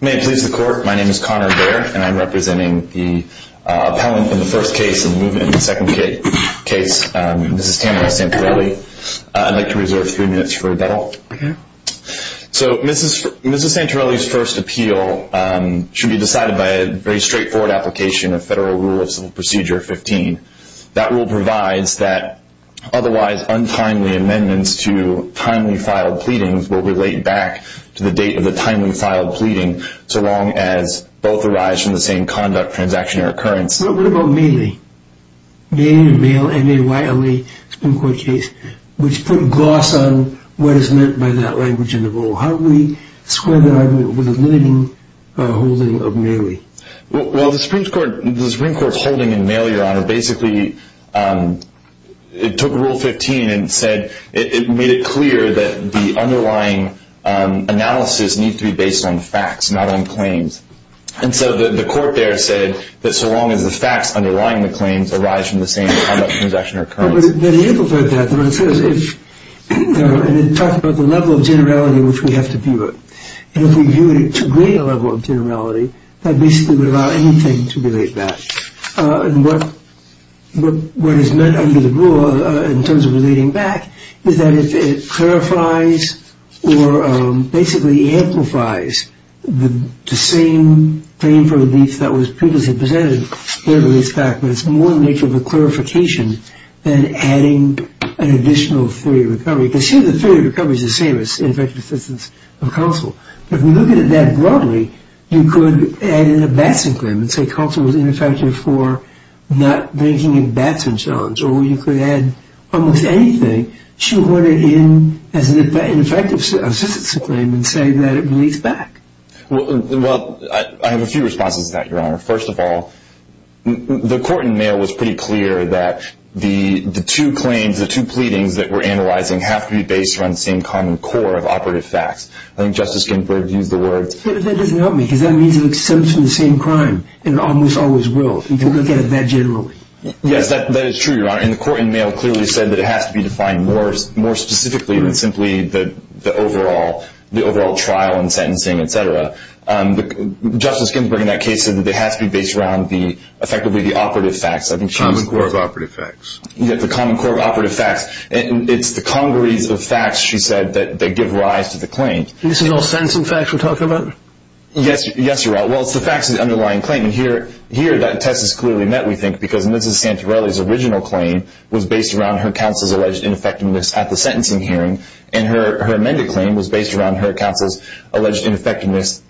May it please the court, my name is Conor Baer and I am representing the appellant in the first case and the second case, Mrs. Tamara Santarelli. I'd like to reserve a few minutes for rebuttal. So Mrs. Santarelli's first appeal should be decided by a very straightforward application of Federal Rule of Civil Procedure 15. That rule provides that otherwise untimely amendments to timely filed pleadings will relate back to the date of the timely filed pleading so long as both arise from the same conduct, transaction, or occurrence. But what about Maile? Maile, M-A-I-L-E, Supreme Court case, which put gloss on what is meant by that language in the rule. How do we square that argument with the limiting holding of Maile? Well, the Supreme Court's holding in Maile, Your Honor, basically took Rule 15 and made it clear that the underlying analysis needs to be based on facts, not on claims. And so the court there said that so long as the facts underlying the claims arise from the same conduct, transaction, or occurrence. Well, that amplified that. And it talked about the level of generality in which we have to view it. And if we viewed it to greater level of generality, that basically would allow anything to relate back. And what is meant under the rule in terms of relating back is that it clarifies or basically amplifies the same claim for relief that was previously presented. Well, I have a few responses to that, Your Honor. First of all, the court in Maile was pretty clear that the two claims, the two pleadings that we're analyzing have to be based around the same common core of operative facts. I think Justice Ginsburg used the word. But that doesn't help me because that means it stems from the same crime and almost always will. If you look at it that generally. Yes, that is true, Your Honor. And the court in Maile clearly said that it has to be defined more specifically than simply the overall trial and sentencing, etc. Justice Ginsburg in that case said that it has to be based around effectively the operative facts. Common core of operative facts. Yes, the common core of operative facts. It's the congruence of facts, she said, that give rise to the claim. This is all sentencing facts we're talking about? Yes, Your Honor. Well, it's the facts of the underlying claim. Here that test is clearly met, we think, because Mrs. Santorelli's original claim was based around her counsel's alleged ineffectiveness at the sentencing hearing. And her amended claim was based around her counsel's alleged ineffectiveness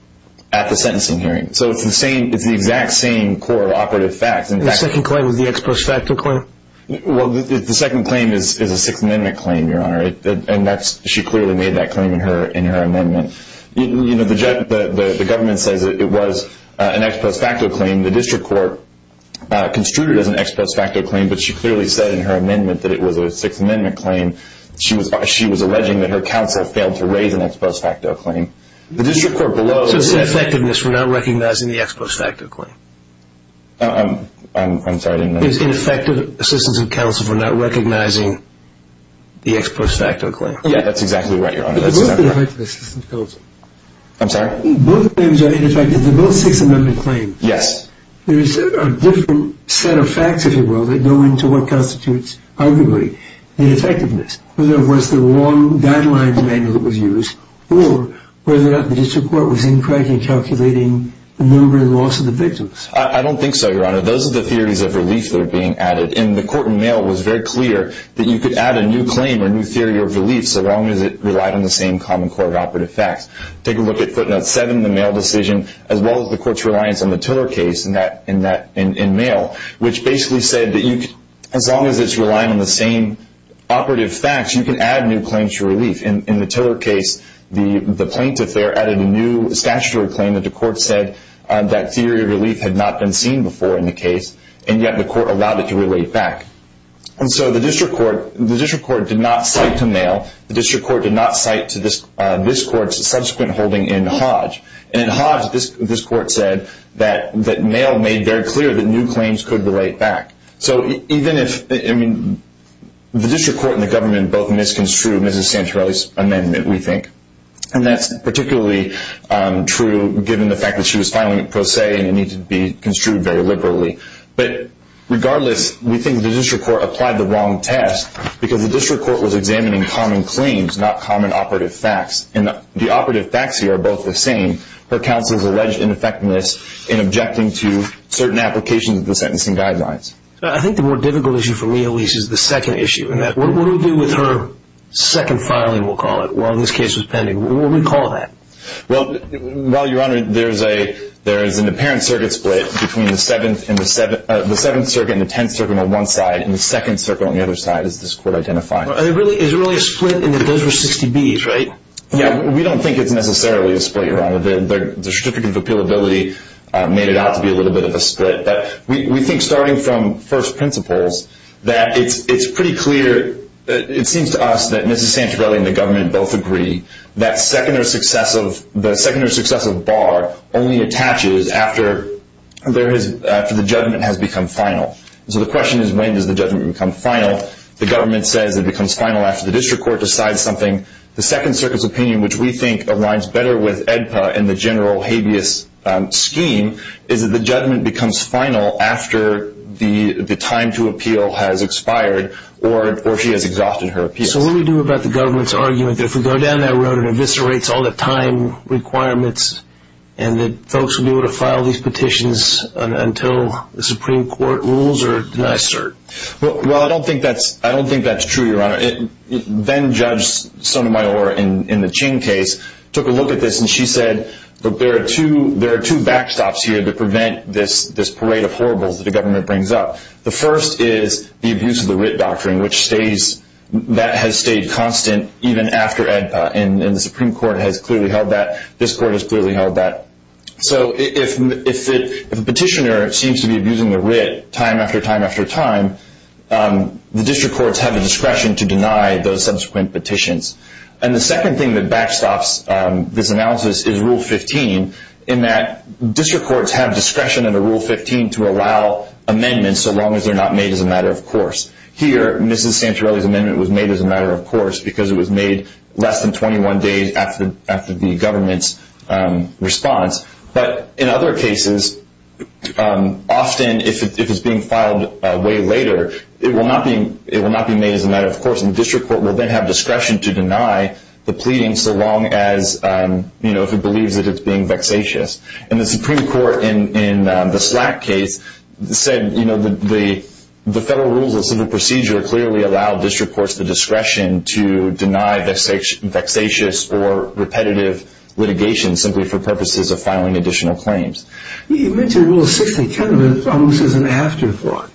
at the sentencing hearing. So it's the exact same core of operative facts. The second claim was the ex post facto claim? Well, the second claim is a Sixth Amendment claim, Your Honor. And she clearly made that claim in her amendment. The government says it was an ex post facto claim. The district court construed it as an ex post facto claim, but she clearly said in her amendment that it was a Sixth Amendment claim. She was alleging that her counsel failed to raise an ex post facto claim. So it's ineffectiveness, we're not recognizing the ex post facto claim? I'm sorry, I didn't understand. It's ineffective assistance of counsel for not recognizing the ex post facto claim. Yeah, that's exactly right, Your Honor. But both are ineffective assistance of counsel. I'm sorry? Both claims are ineffective. They're both Sixth Amendment claims. Yes. There's a different set of facts, if you will, that go into what constitutes, arguably, ineffectiveness. Whether it was the wrong guidelines manual that was used, or whether or not the district court was incorrectly calculating the number and loss of the victims. I don't think so, Your Honor. Those are the theories of relief that are being added. And the court in mail was very clear that you could add a new claim or new theory of relief so long as it relied on the same common core of operative facts. Take a look at Footnote 7, the mail decision, as well as the court's reliance on the Tiller case in mail, which basically said that as long as it's relying on the same operative facts, you can add new claims to relief. In the Tiller case, the plaintiff there added a new statutory claim that the court said that theory of relief had not been seen before in the case, and yet the court allowed it to relate back. And so the district court did not cite to mail. The district court did not cite to this court's subsequent holding in Hodge. And in Hodge, this court said that mail made very clear that new claims could relate back. So the district court and the government both misconstrued Mrs. Santorelli's amendment, we think. And that's particularly true given the fact that she was filing it pro se and it needed to be construed very liberally. But regardless, we think the district court applied the wrong test because the district court was examining common claims, not common operative facts. And the operative facts here are both the same, her counsel's alleged ineffectiveness in objecting to certain applications of the sentencing guidelines. I think the more difficult issue for me, Elise, is the second issue. What do we do with her second filing, we'll call it, while this case was pending? What do we call that? Well, Your Honor, there is an apparent circuit split between the Seventh Circuit and the Tenth Circuit on one side and the Second Circuit on the other side, as this court identified. Is it really a split in that those were 60Bs, right? Yeah, we don't think it's necessarily a split, Your Honor. The certificate of appealability made it out to be a little bit of a split. But we think, starting from first principles, that it's pretty clear, it seems to us, that Mrs. Santorelli and the government both agree that the secondary successive bar only attaches after the judgment has become final. So the question is, when does the judgment become final? The government says it becomes final after the district court decides something. The Second Circuit's opinion, which we think aligns better with AEDPA and the general habeas scheme, is that the judgment becomes final after the time to appeal has expired or she has exhausted her appeal. So what do we do about the government's argument that if we go down that road, it eviscerates all the time requirements and that folks will be able to file these petitions until the Supreme Court rules or denies cert? Well, I don't think that's true, Your Honor. Then-Judge Sotomayor, in the Ching case, took a look at this and she said that there are two backstops here to prevent this parade of horribles that the government brings up. The first is the abuse of the writ doctrine, which has stayed constant even after AEDPA. And the Supreme Court has clearly held that. This court has clearly held that. So if a petitioner seems to be abusing the writ time after time after time, the district courts have the discretion to deny those subsequent petitions. And the second thing that backstops this analysis is Rule 15, in that district courts have discretion under Rule 15 to allow amendments so long as they're not made as a matter of course. Here, Mrs. Santorelli's amendment was made as a matter of course because it was made less than 21 days after the government's response. But in other cases, often if it's being filed way later, it will not be made as a matter of course, and the district court will then have discretion to deny the pleading so long as, you know, if it believes that it's being vexatious. And the Supreme Court in the Slack case said, you know, the federal rules of civil procedure clearly allow district courts the discretion to deny vexatious or repetitive litigation simply for purposes of filing additional claims. You mentioned Rule 60 kind of almost as an afterthought.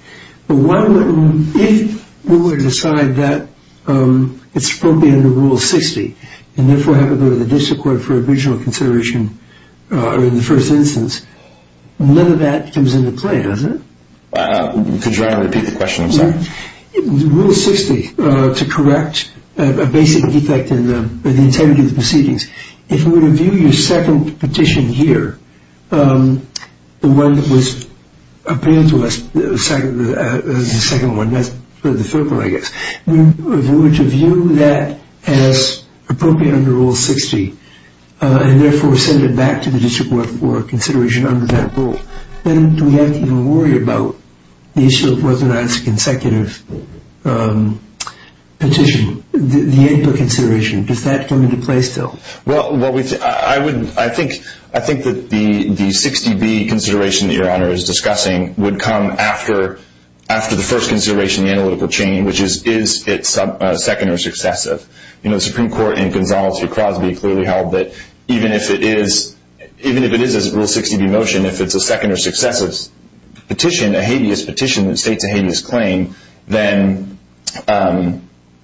If we were to decide that it's appropriate under Rule 60, and therefore have it go to the district court for original consideration in the first instance, none of that comes into play, does it? Could you try to repeat the question? I'm sorry. Rule 60, to correct a basic defect in the integrity of the proceedings, if we were to view your second petition here, the one that was appealed to us, the second one, that's for the federal, I guess, if we were to view that as appropriate under Rule 60 and therefore send it back to the district court for consideration under that rule, then do we have to even worry about the issue of whether or not it's a consecutive petition, the input consideration, does that come into play still? Well, I think that the 60B consideration that your Honor is discussing would come after the first consideration, the analytical chain, which is, is it second or successive? The Supreme Court in Gonzales v. Crosby clearly held that even if it is a Rule 60B motion, if it's a second or successive petition, a habeas petition that states a habeas claim, then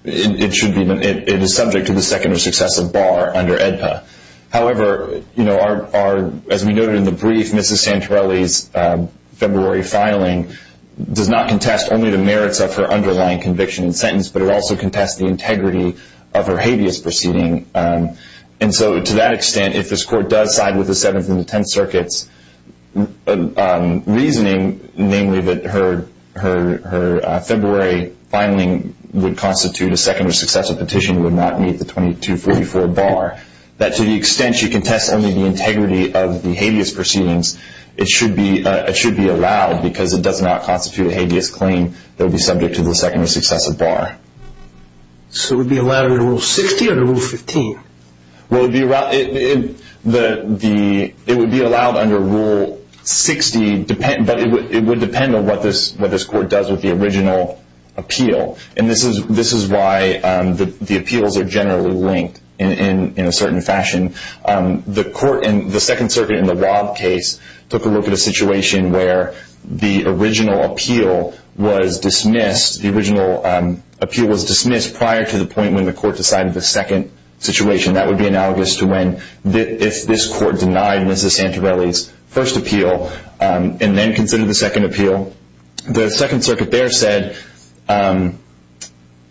it is subject to the second or successive bar under AEDPA. However, as we noted in the brief, Mrs. Santorelli's February filing does not contest only the merits of her underlying conviction and sentence, but it also contests the integrity of her habeas proceeding. And so to that extent, if this Court does side with the Seventh and the Tenth Circuits' reasoning, namely that her February filing would constitute a second or successive petition, would not meet the 2244 bar, that to the extent she contests only the integrity of the habeas proceedings, it should be allowed because it does not constitute a habeas claim that would be subject to the second or successive bar. So it would be allowed under Rule 60 or under Rule 15? Well, it would be allowed under Rule 60, but it would depend on what this Court does with the original appeal. And this is why the appeals are generally linked in a certain fashion. The Second Circuit in the Waub case took a look at a situation where the original appeal was dismissed prior to the point when the Court decided the second situation. That would be analogous to when this Court denied Mrs. Santorelli's first appeal and then considered the second appeal. The Second Circuit there said,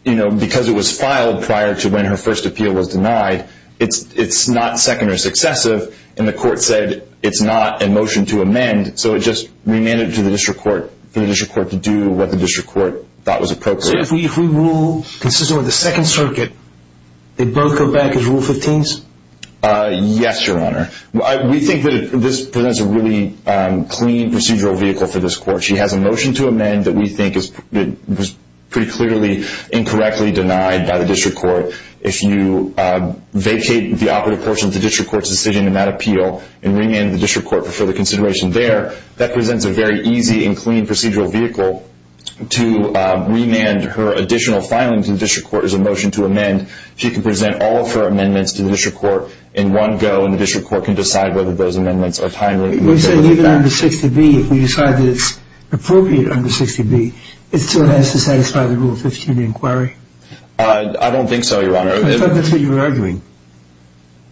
because it was filed prior to when her first appeal was denied, it's not second or successive, and the Court said it's not a motion to amend, so it just remanded it to the District Court for the District Court to do what the District Court thought was appropriate. So if we rule consistent with the Second Circuit, they both go back as Rule 15s? Yes, Your Honor. We think that this presents a really clean procedural vehicle for this Court. She has a motion to amend that we think was pretty clearly incorrectly denied by the District Court. If you vacate the operative portion of the District Court's decision in that appeal and remand the District Court for further consideration there, that presents a very easy and clean procedural vehicle. To remand her additional filing to the District Court is a motion to amend. She can present all of her amendments to the District Court in one go, and the District Court can decide whether those amendments are timely. You said even under 60B, if we decide that it's appropriate under 60B, it still has to satisfy the Rule 15 inquiry? I don't think so, Your Honor. I thought that's what you were arguing.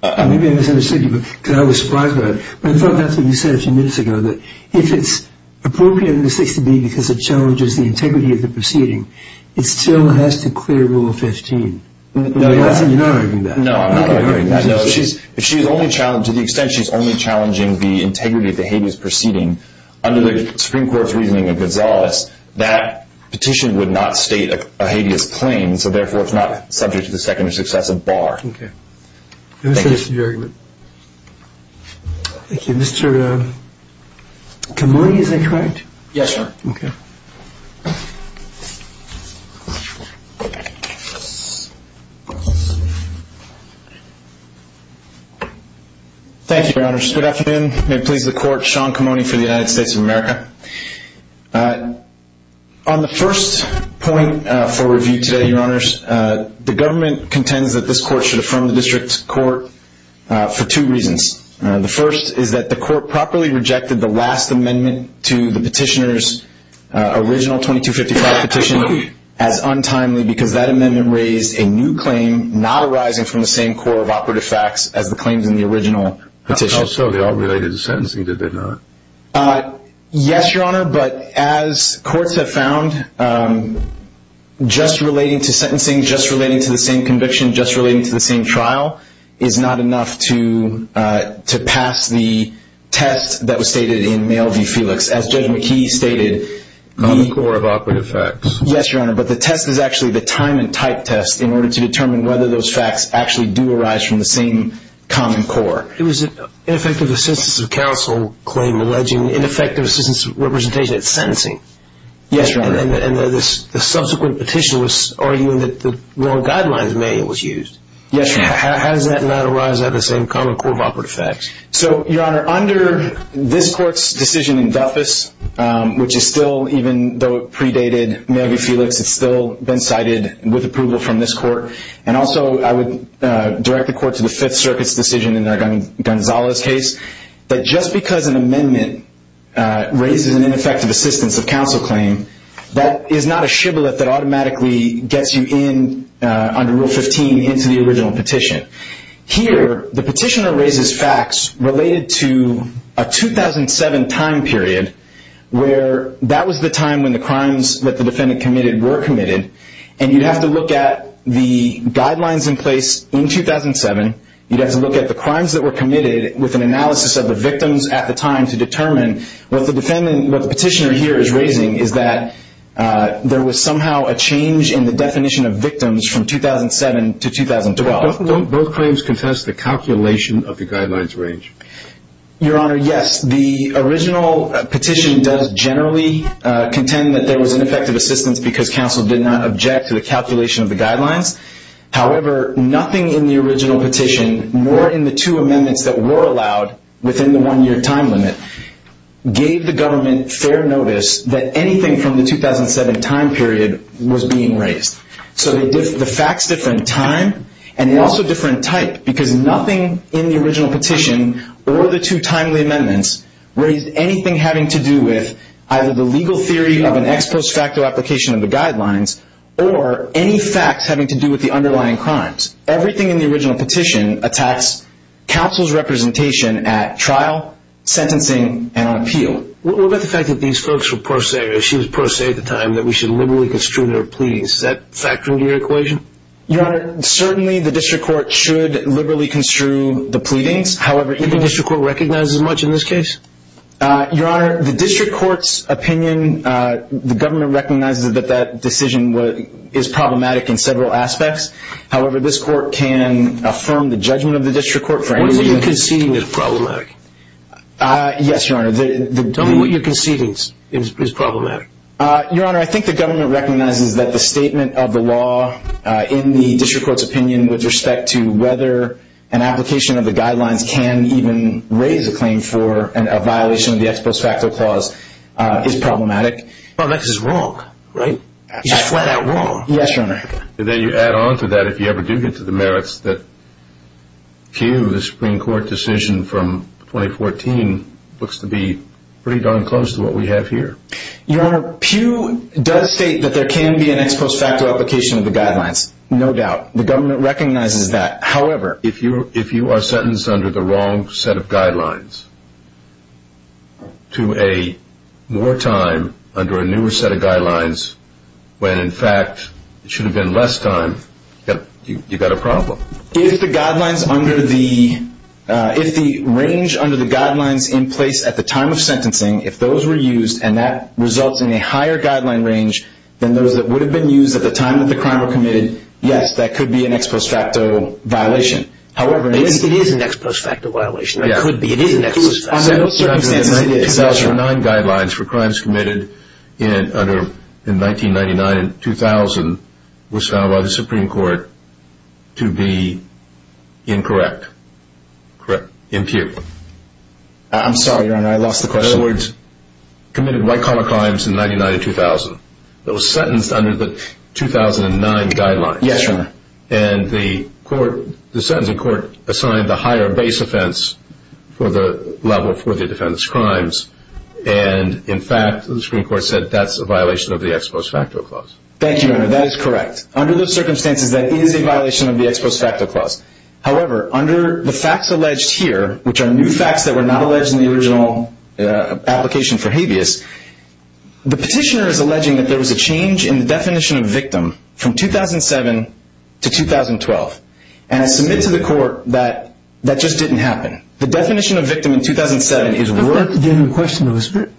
Maybe I misunderstood you, because I was surprised by it. But I thought that's what you said a few minutes ago, that if it's appropriate under 60B because it challenges the integrity of the proceeding, it still has to clear Rule 15. No, you're not arguing that. No, I'm not arguing that. Okay, all right. To the extent she's only challenging the integrity of the habeas proceeding, under the Supreme Court's reasoning of Gonzales, that petition would not state a habeas claim, so therefore it's not subject to the second or successive bar. Okay. Thank you. Thank you. Mr. Camoni, is that correct? Yes, Your Honor. Okay. Thank you, Your Honor. Good afternoon. May it please the Court, Sean Camoni for the United States of America. On the first point for review today, Your Honors, the government contends that this Court should affirm the District Court for two reasons. The first is that the Court properly rejected the last amendment to the petitioner's original 2255 petition as untimely because that amendment raised a new claim not arising from the same core of operative facts as the claims in the original petition. So they all related to sentencing, did they not? Yes, Your Honor, but as courts have found, just relating to sentencing, just relating to the same conviction, just relating to the same trial, is not enough to pass the test that was stated in Mail v. Felix. As Judge McKee stated, the – Common core of operative facts. Yes, Your Honor, but the test is actually the time and type test in order to determine whether those facts actually do arise from the same common core. It was an ineffective assistance of counsel claim alleging ineffective assistance of representation at sentencing. Yes, Your Honor. And the subsequent petition was arguing that the wrong guidelines manual was used. Yes, Your Honor. How does that not arise out of the same common core of operative facts? So, Your Honor, under this Court's decision in Duffus, which is still, even though it predated Mail v. Felix, it's still been cited with approval from this Court, and also I would direct the Court to the Fifth Circuit's decision in Gonzalo's case, that just because an amendment raises an ineffective assistance of counsel claim, that is not a shibboleth that automatically gets you in under Rule 15 into the original petition. Here, the petitioner raises facts related to a 2007 time period where that was the time when the crimes that the defendant committed were committed, and you'd have to look at the guidelines in place in 2007. You'd have to look at the crimes that were committed with an analysis of the victims at the time to determine. What the petitioner here is raising is that there was somehow a change in the definition of victims from 2007 to 2012. Don't both claims contest the calculation of the guidelines range? Your Honor, yes. The original petition does generally contend that there was ineffective assistance because counsel did not object to the calculation of the guidelines. However, nothing in the original petition, nor in the two amendments that were allowed within the one-year time limit, gave the government fair notice that anything from the 2007 time period was being raised. So the facts differ in time, and they also differ in type, because nothing in the original petition, or the two timely amendments, raised anything having to do with either the legal theory of an ex post facto application of the guidelines, or any facts having to do with the underlying crimes. Everything in the original petition attacks counsel's representation at trial, sentencing, and on appeal. What about the fact that these folks were pro se, or she was pro se at the time, that we should liberally construe their pleadings? Is that factoring to your equation? Your Honor, certainly the district court should liberally construe the pleadings. However, even the district court recognizes as much in this case. Your Honor, the district court's opinion, the government recognizes that that decision is problematic in several aspects. However, this court can affirm the judgment of the district court for any... What you're conceding is problematic. Yes, Your Honor. Tell me what you're conceding is problematic. Your Honor, I think the government recognizes that the statement of the law in the district court's opinion with respect to whether an application of the guidelines can even raise a claim for a violation of the ex post facto clause is problematic. Well, that's just wrong, right? Just flat out wrong. Yes, Your Honor. Then you add on to that, if you ever do get to the merits, that the Supreme Court decision from 2014 looks to be pretty darn close to what we have here. Your Honor, Pew does state that there can be an ex post facto application of the guidelines. No doubt. The government recognizes that. However... If you are sentenced under the wrong set of guidelines to a more time under a newer set of guidelines, when in fact it should have been less time, you've got a problem. If the range under the guidelines in place at the time of sentencing, if those were used, and that results in a higher guideline range than those that would have been used at the time that the crime was committed, yes, that could be an ex post facto violation. It is an ex post facto violation. It could be. It is an ex post facto violation. Sentenced under the 2009 guidelines for crimes committed in 1999 and 2000 was found by the Supreme Court to be incorrect. Correct. In Pew. I'm sorry, Your Honor. I lost the question. In other words, committed white collar crimes in 1999 and 2000. It was sentenced under the 2009 guidelines. Yes, Your Honor. And the court, the sentencing court assigned the higher base offense for the level for the defendant's crimes. And in fact, the Supreme Court said that's a violation of the ex post facto clause. Thank you, Your Honor. That is correct. Under those circumstances, that is a violation of the ex post facto clause. However, under the facts alleged here, which are new facts that were not alleged in the original application for habeas, the petitioner is alleging that there was a change in the definition of victim from 2007 to 2012. And I submit to the court that that just didn't happen. The definition of victim in 2007 is worth... That's a different question though, isn't it?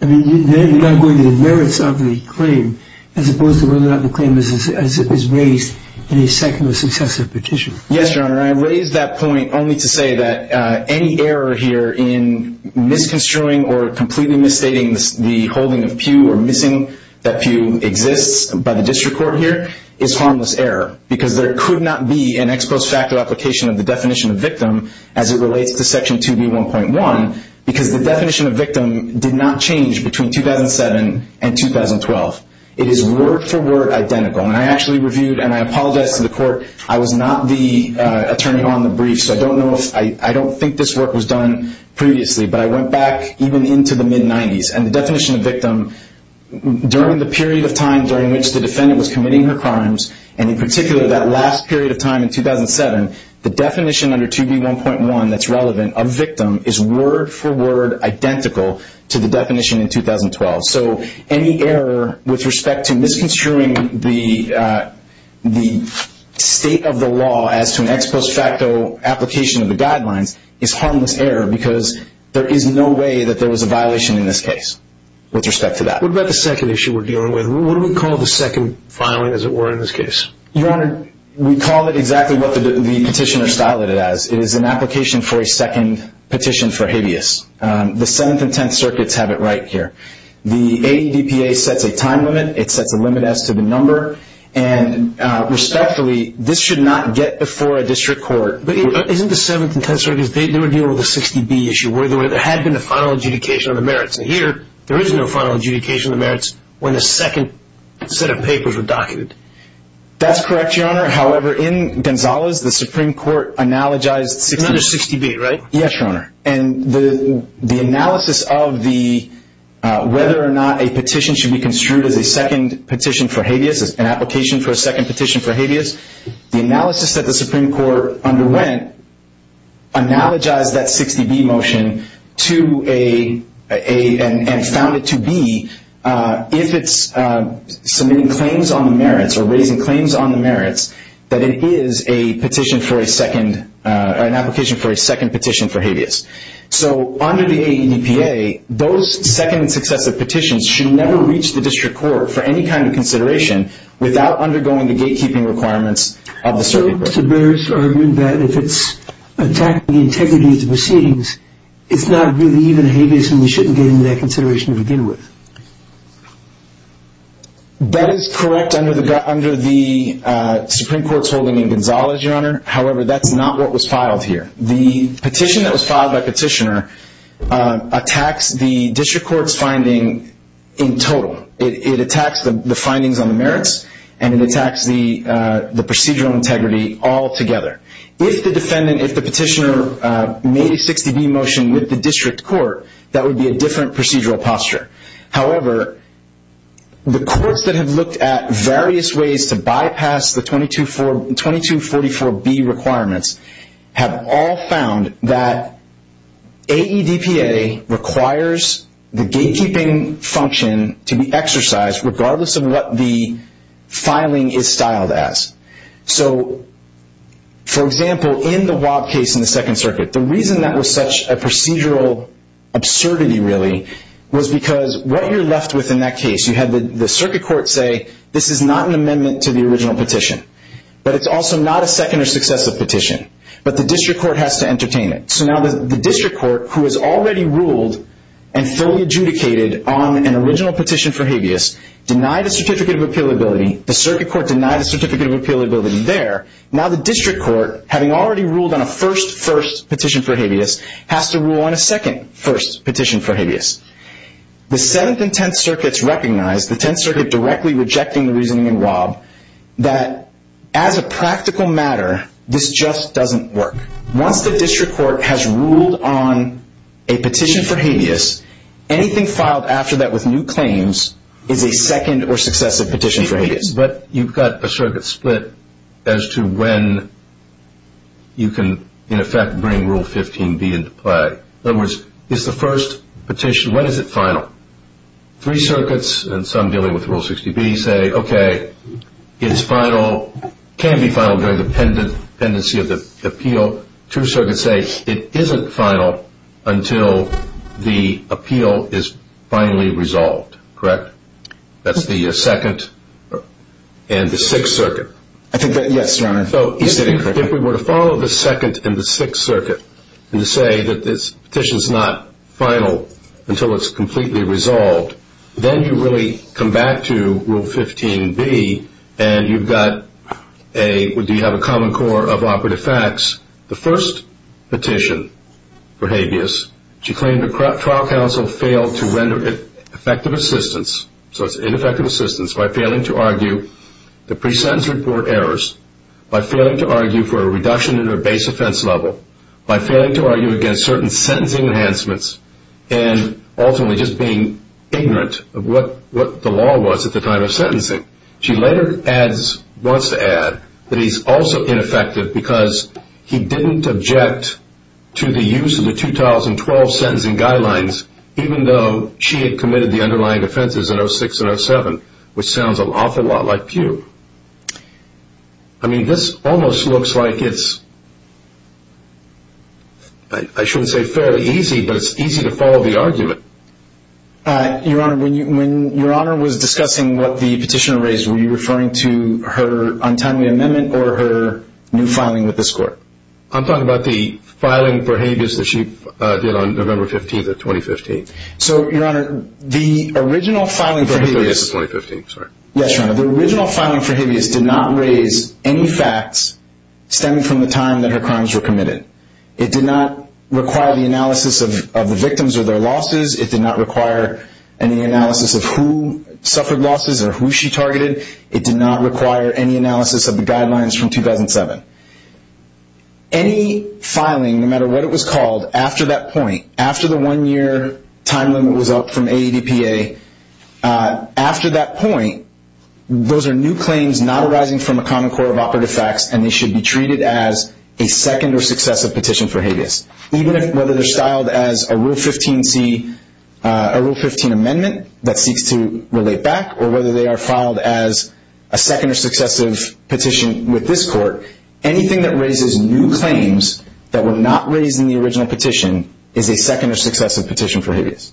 I mean, you're not going to the merits of the claim as opposed to whether or not the claim is raised in a second or successive petition. Yes, Your Honor. Your Honor, I raise that point only to say that any error here in misconstruing or completely misstating the holding of pew or missing that pew exists by the district court here is harmless error. Because there could not be an ex post facto application of the definition of victim as it relates to Section 2B1.1 because the definition of victim did not change between 2007 and 2012. It is word for word identical. And I actually reviewed and I apologized to the court. I was not the attorney on the brief, so I don't know if... I don't think this work was done previously, but I went back even into the mid-90s. And the definition of victim during the period of time during which the defendant was committing her crimes, and in particular that last period of time in 2007, the definition under 2B1.1 that's relevant of victim is word for word identical to the definition in 2012. So any error with respect to misconstruing the state of the law as to an ex post facto application of the guidelines is harmless error because there is no way that there was a violation in this case with respect to that. What about the second issue we're dealing with? What do we call the second filing, as it were, in this case? Your Honor, we call it exactly what the petitioner styled it as. It is an application for a second petition for habeas. The Seventh and Tenth Circuits have it right here. The ADPA sets a time limit. It sets a limit as to the number. And respectfully, this should not get before a district court. But isn't the Seventh and Tenth Circuits, they were dealing with a 60B issue, where there had been a final adjudication of the merits. And here, there is no final adjudication of the merits when the second set of papers were documented. That's correct, Your Honor. However, in Gonzales, the Supreme Court analogized 60B. Another 60B, right? Yes, Your Honor. And the analysis of whether or not a petition should be construed as a second petition for habeas, as an application for a second petition for habeas, the analysis that the Supreme Court underwent analogized that 60B motion and found it to be, if it's submitting claims on the merits or raising claims on the merits, that it is an application for a second petition for habeas. So under the ADPA, those second successive petitions should never reach the district court for any kind of consideration without undergoing the gatekeeping requirements of the circuit breaker. So Mr. Burris argued that if it's attacking the integrity of the proceedings, it's not really even habeas and we shouldn't get into that consideration to begin with. That is correct under the Supreme Court's holding in Gonzales, Your Honor. However, that's not what was filed here. The petition that was filed by petitioner attacks the district court's finding in total. It attacks the findings on the merits and it attacks the procedural integrity altogether. If the petitioner made a 60B motion with the district court, that would be a different procedural posture. However, the courts that have looked at various ways to bypass the 2244B requirements have all found that AEDPA requires the gatekeeping function to be exercised regardless of what the filing is styled as. So, for example, in the Wab case in the Second Circuit, the reason that was such a procedural absurdity really was because what you're left with in that case, you had the circuit court say this is not an amendment to the original petition. But it's also not a second or successive petition. But the district court has to entertain it. So now the district court, who has already ruled and fully adjudicated on an original petition for habeas, denied a certificate of appealability. The circuit court denied a certificate of appealability there. Now the district court, having already ruled on a first first petition for habeas, has to rule on a second first petition for habeas. The Seventh and Tenth Circuits recognize, the Tenth Circuit directly rejecting the reasoning in Wab, that as a practical matter, this just doesn't work. Once the district court has ruled on a petition for habeas, anything filed after that with new claims is a second or successive petition for habeas. But you've got a circuit split as to when you can, in effect, bring Rule 15B into play. In other words, is the first petition, when is it final? Three circuits and some dealing with Rule 60B say, okay, it's final, can be final during the pendency of the appeal. Two circuits say it isn't final until the appeal is finally resolved, correct? That's the Second and the Sixth Circuit. I think that, yes, Your Honor. So if we were to follow the Second and the Sixth Circuit, and to say that this petition's not final until it's completely resolved, then you really come back to Rule 15B and you've got a, do you have a common core of operative facts? The first petition for habeas, she claimed the trial counsel failed to render effective assistance, so it's ineffective assistance, by failing to argue the pre-sentence report errors, by failing to argue for a reduction in her base offense level, by failing to argue against certain sentencing enhancements, and ultimately just being ignorant of what the law was at the time of sentencing. She later adds, wants to add, that he's also ineffective because he didn't object to the use of the 2012 sentencing guidelines, even though she had committed the underlying offenses in 06 and 07, which sounds an awful lot like Pew. I mean, this almost looks like it's, I shouldn't say fairly easy, but it's easy to follow the argument. Your Honor, when Your Honor was discussing what the petitioner raised, were you referring to her untimely amendment or her new filing with this court? I'm talking about the filing for habeas that she did on November 15th of 2015. So, Your Honor, the original filing for habeas. The 15th of 2015, sorry. Yes, Your Honor. The original filing for habeas did not raise any facts stemming from the time that her crimes were committed. It did not require the analysis of the victims or their losses. It did not require any analysis of who suffered losses or who she targeted. It did not require any analysis of the guidelines from 2007. Any filing, no matter what it was called, after that point, after the one-year time limit was up from AEDPA, after that point, those are new claims not arising from a common core of operative facts, and they should be treated as a second or successive petition for habeas. Even whether they're styled as a Rule 15 amendment that seeks to relate back or whether they are filed as a second or successive petition with this court, anything that raises new claims that were not raised in the original petition is a second or successive petition for habeas.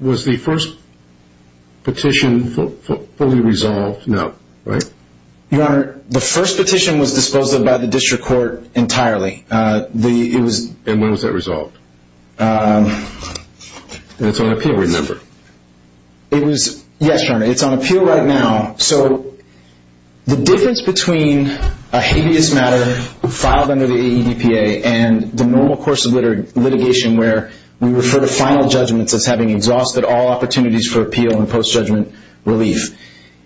Was the first petition fully resolved? No. Right? Your Honor, the first petition was disposed of by the district court entirely. And when was that resolved? It's on appeal, remember. Yes, Your Honor, it's on appeal right now. So the difference between a habeas matter filed under the AEDPA and the normal course of litigation where we refer to final judgments as having exhausted all opportunities for appeal and post-judgment relief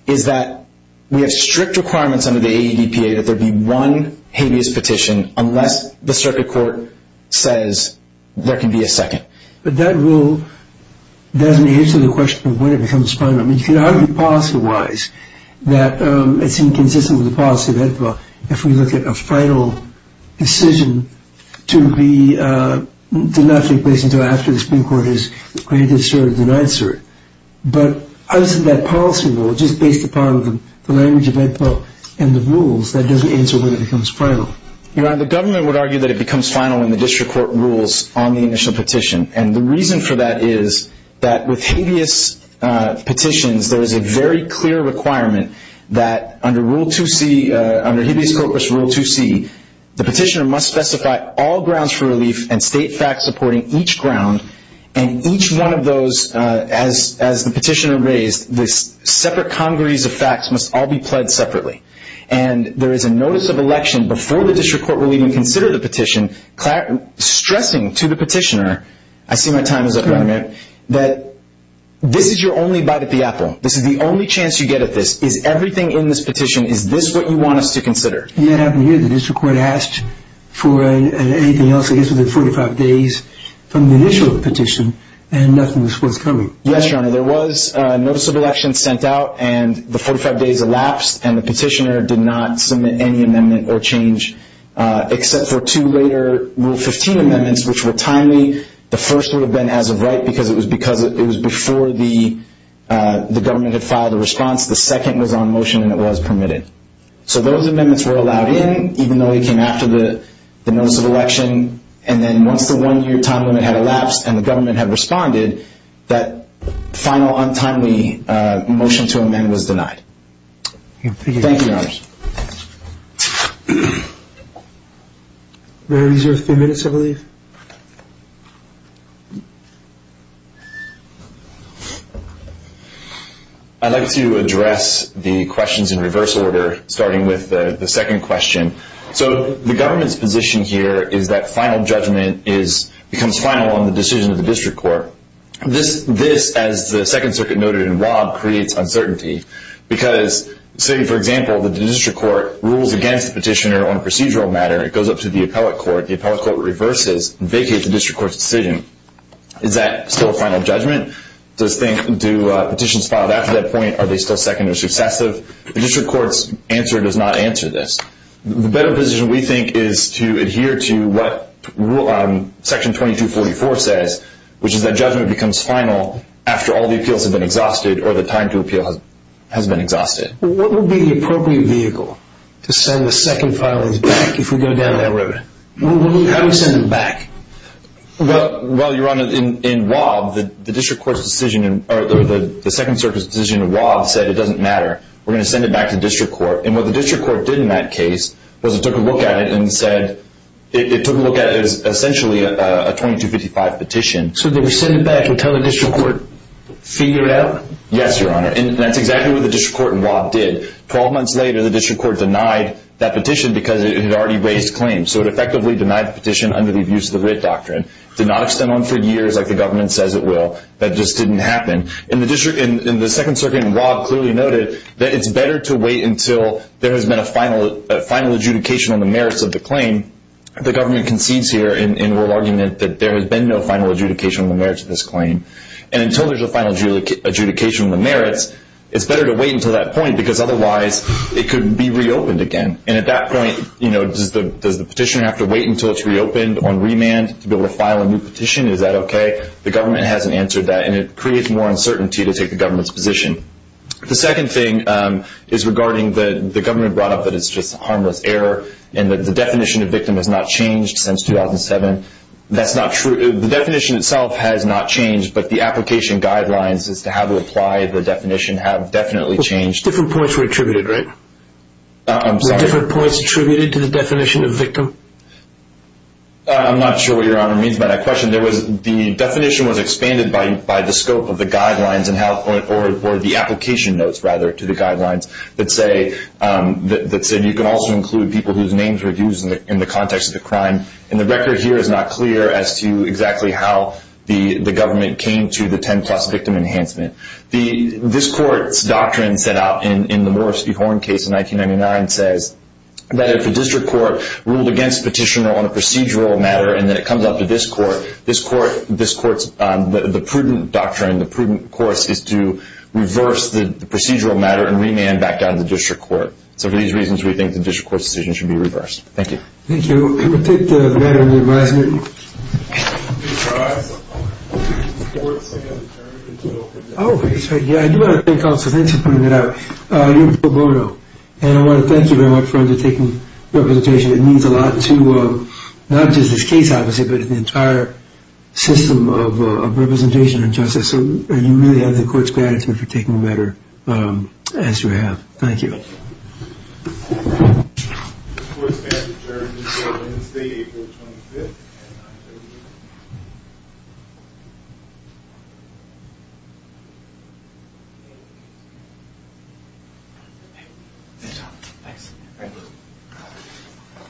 is that we have strict requirements under the AEDPA that there be one habeas petition unless the circuit court says there can be a second. But that rule doesn't answer the question of when it becomes final. I mean, you could argue policy-wise that it's inconsistent with the policy of HEDPA if we look at a final decision to not take place until after the Supreme Court has granted cert or denied cert. But other than that policy rule, just based upon the language of HEDPA and the rules, that doesn't answer when it becomes final. Your Honor, the government would argue that it becomes final when the district court rules on the initial petition. And the reason for that is that with habeas petitions, there is a very clear requirement that under Rule 2C, under Habeas Corpus Rule 2C, the petitioner must specify all grounds for relief and state facts supporting each ground, and each one of those, as the petitioner raised, the separate congrees of facts must all be pled separately. And there is a notice of election before the district court will even consider the petition, stressing to the petitioner, I see my time is up, Your Honor, that this is your only bite at the apple. This is the only chance you get at this. Is everything in this petition, is this what you want us to consider? Yes, Your Honor. The district court asked for anything else, I guess, within 45 days from the initial petition, and nothing was forthcoming. Yes, Your Honor. There was a notice of election sent out, and the 45 days elapsed, and the petitioner did not submit any amendment or change except for two later Rule 15 amendments, which were timely. The first would have been as of right because it was before the government had filed a response. The second was on motion, and it was permitted. So those amendments were allowed in, even though they came after the notice of election, and then once the one-year time limit had elapsed and the government had responded, that final, untimely motion to amend was denied. Thank you, Your Honors. There are only a few minutes, I believe. I'd like to address the questions in reverse order, starting with the second question. So the government's position here is that final judgment becomes final on the decision of the district court. This, as the Second Circuit noted in Rob, creates uncertainty because, say, for example, the district court rules against the petitioner on a procedural matter. It goes up to the appellate court. The appellate court reverses and vacates the district court's decision. Is that still a final judgment? Do petitions filed after that point, are they still second or successive? The district court's answer does not answer this. The better position, we think, is to adhere to what Section 2244 says, which is that judgment becomes final after all the appeals have been exhausted or the time to appeal has been exhausted. What would be the appropriate vehicle to send the second filings back if we go down that road? How do we send them back? Well, Your Honor, in Rob, the district court's decision, or the Second Circuit's decision in Rob said it doesn't matter. We're going to send it back to the district court. And what the district court did in that case was it took a look at it and said, it took a look at it as essentially a 2255 petition. So did we send it back and tell the district court, figure it out? Yes, Your Honor. And that's exactly what the district court in Rob did. Twelve months later, the district court denied that petition because it had already raised claims. So it effectively denied the petition under the Abuse of the Writ Doctrine. It did not extend on for years like the government says it will. That just didn't happen. And the second circuit in Rob clearly noted that it's better to wait until there has been a final adjudication on the merits of the claim. The government concedes here in Rob's argument that there has been no final adjudication on the merits of this claim. And until there's a final adjudication on the merits, it's better to wait until that point because otherwise it could be reopened again. And at that point, does the petitioner have to wait until it's reopened on remand to be able to file a new petition? Is that okay? The government hasn't answered that, and it creates more uncertainty to take the government's position. The second thing is regarding the government brought up that it's just harmless error and that the definition of victim has not changed since 2007. That's not true. The definition itself has not changed, but the application guidelines as to how to apply the definition have definitely changed. Different points were attributed, right? I'm sorry? Different points attributed to the definition of victim? I'm not sure what Your Honor means by that question. The definition was expanded by the scope of the guidelines or the application notes, rather, to the guidelines that said you can also include people whose names were used in the context of the crime. And the record here is not clear as to exactly how the government came to the 10-plus victim enhancement. This court's doctrine set out in the Morris v. Horn case in 1999 says that if a district court ruled against a petitioner on a procedural matter and then it comes up to this court, this court's, the prudent doctrine, the prudent course is to reverse the procedural matter and remand back down to the district court. So for these reasons, we think the district court's decision should be reversed. Thank you. Thank you. I'm going to take the matter into advisement. Oh, that's right. Yeah, I do want to thank counsel. Thanks for pointing that out. Your Honor, and I want to thank you very much for undertaking representation. It means a lot to not just this case, obviously, but the entire system of representation and justice. So you really have the court's gratitude for taking the matter as you have. Thank you. The court is adjourned. State April 25th. And I'm adjourned. Good job. Thanks. Thank you.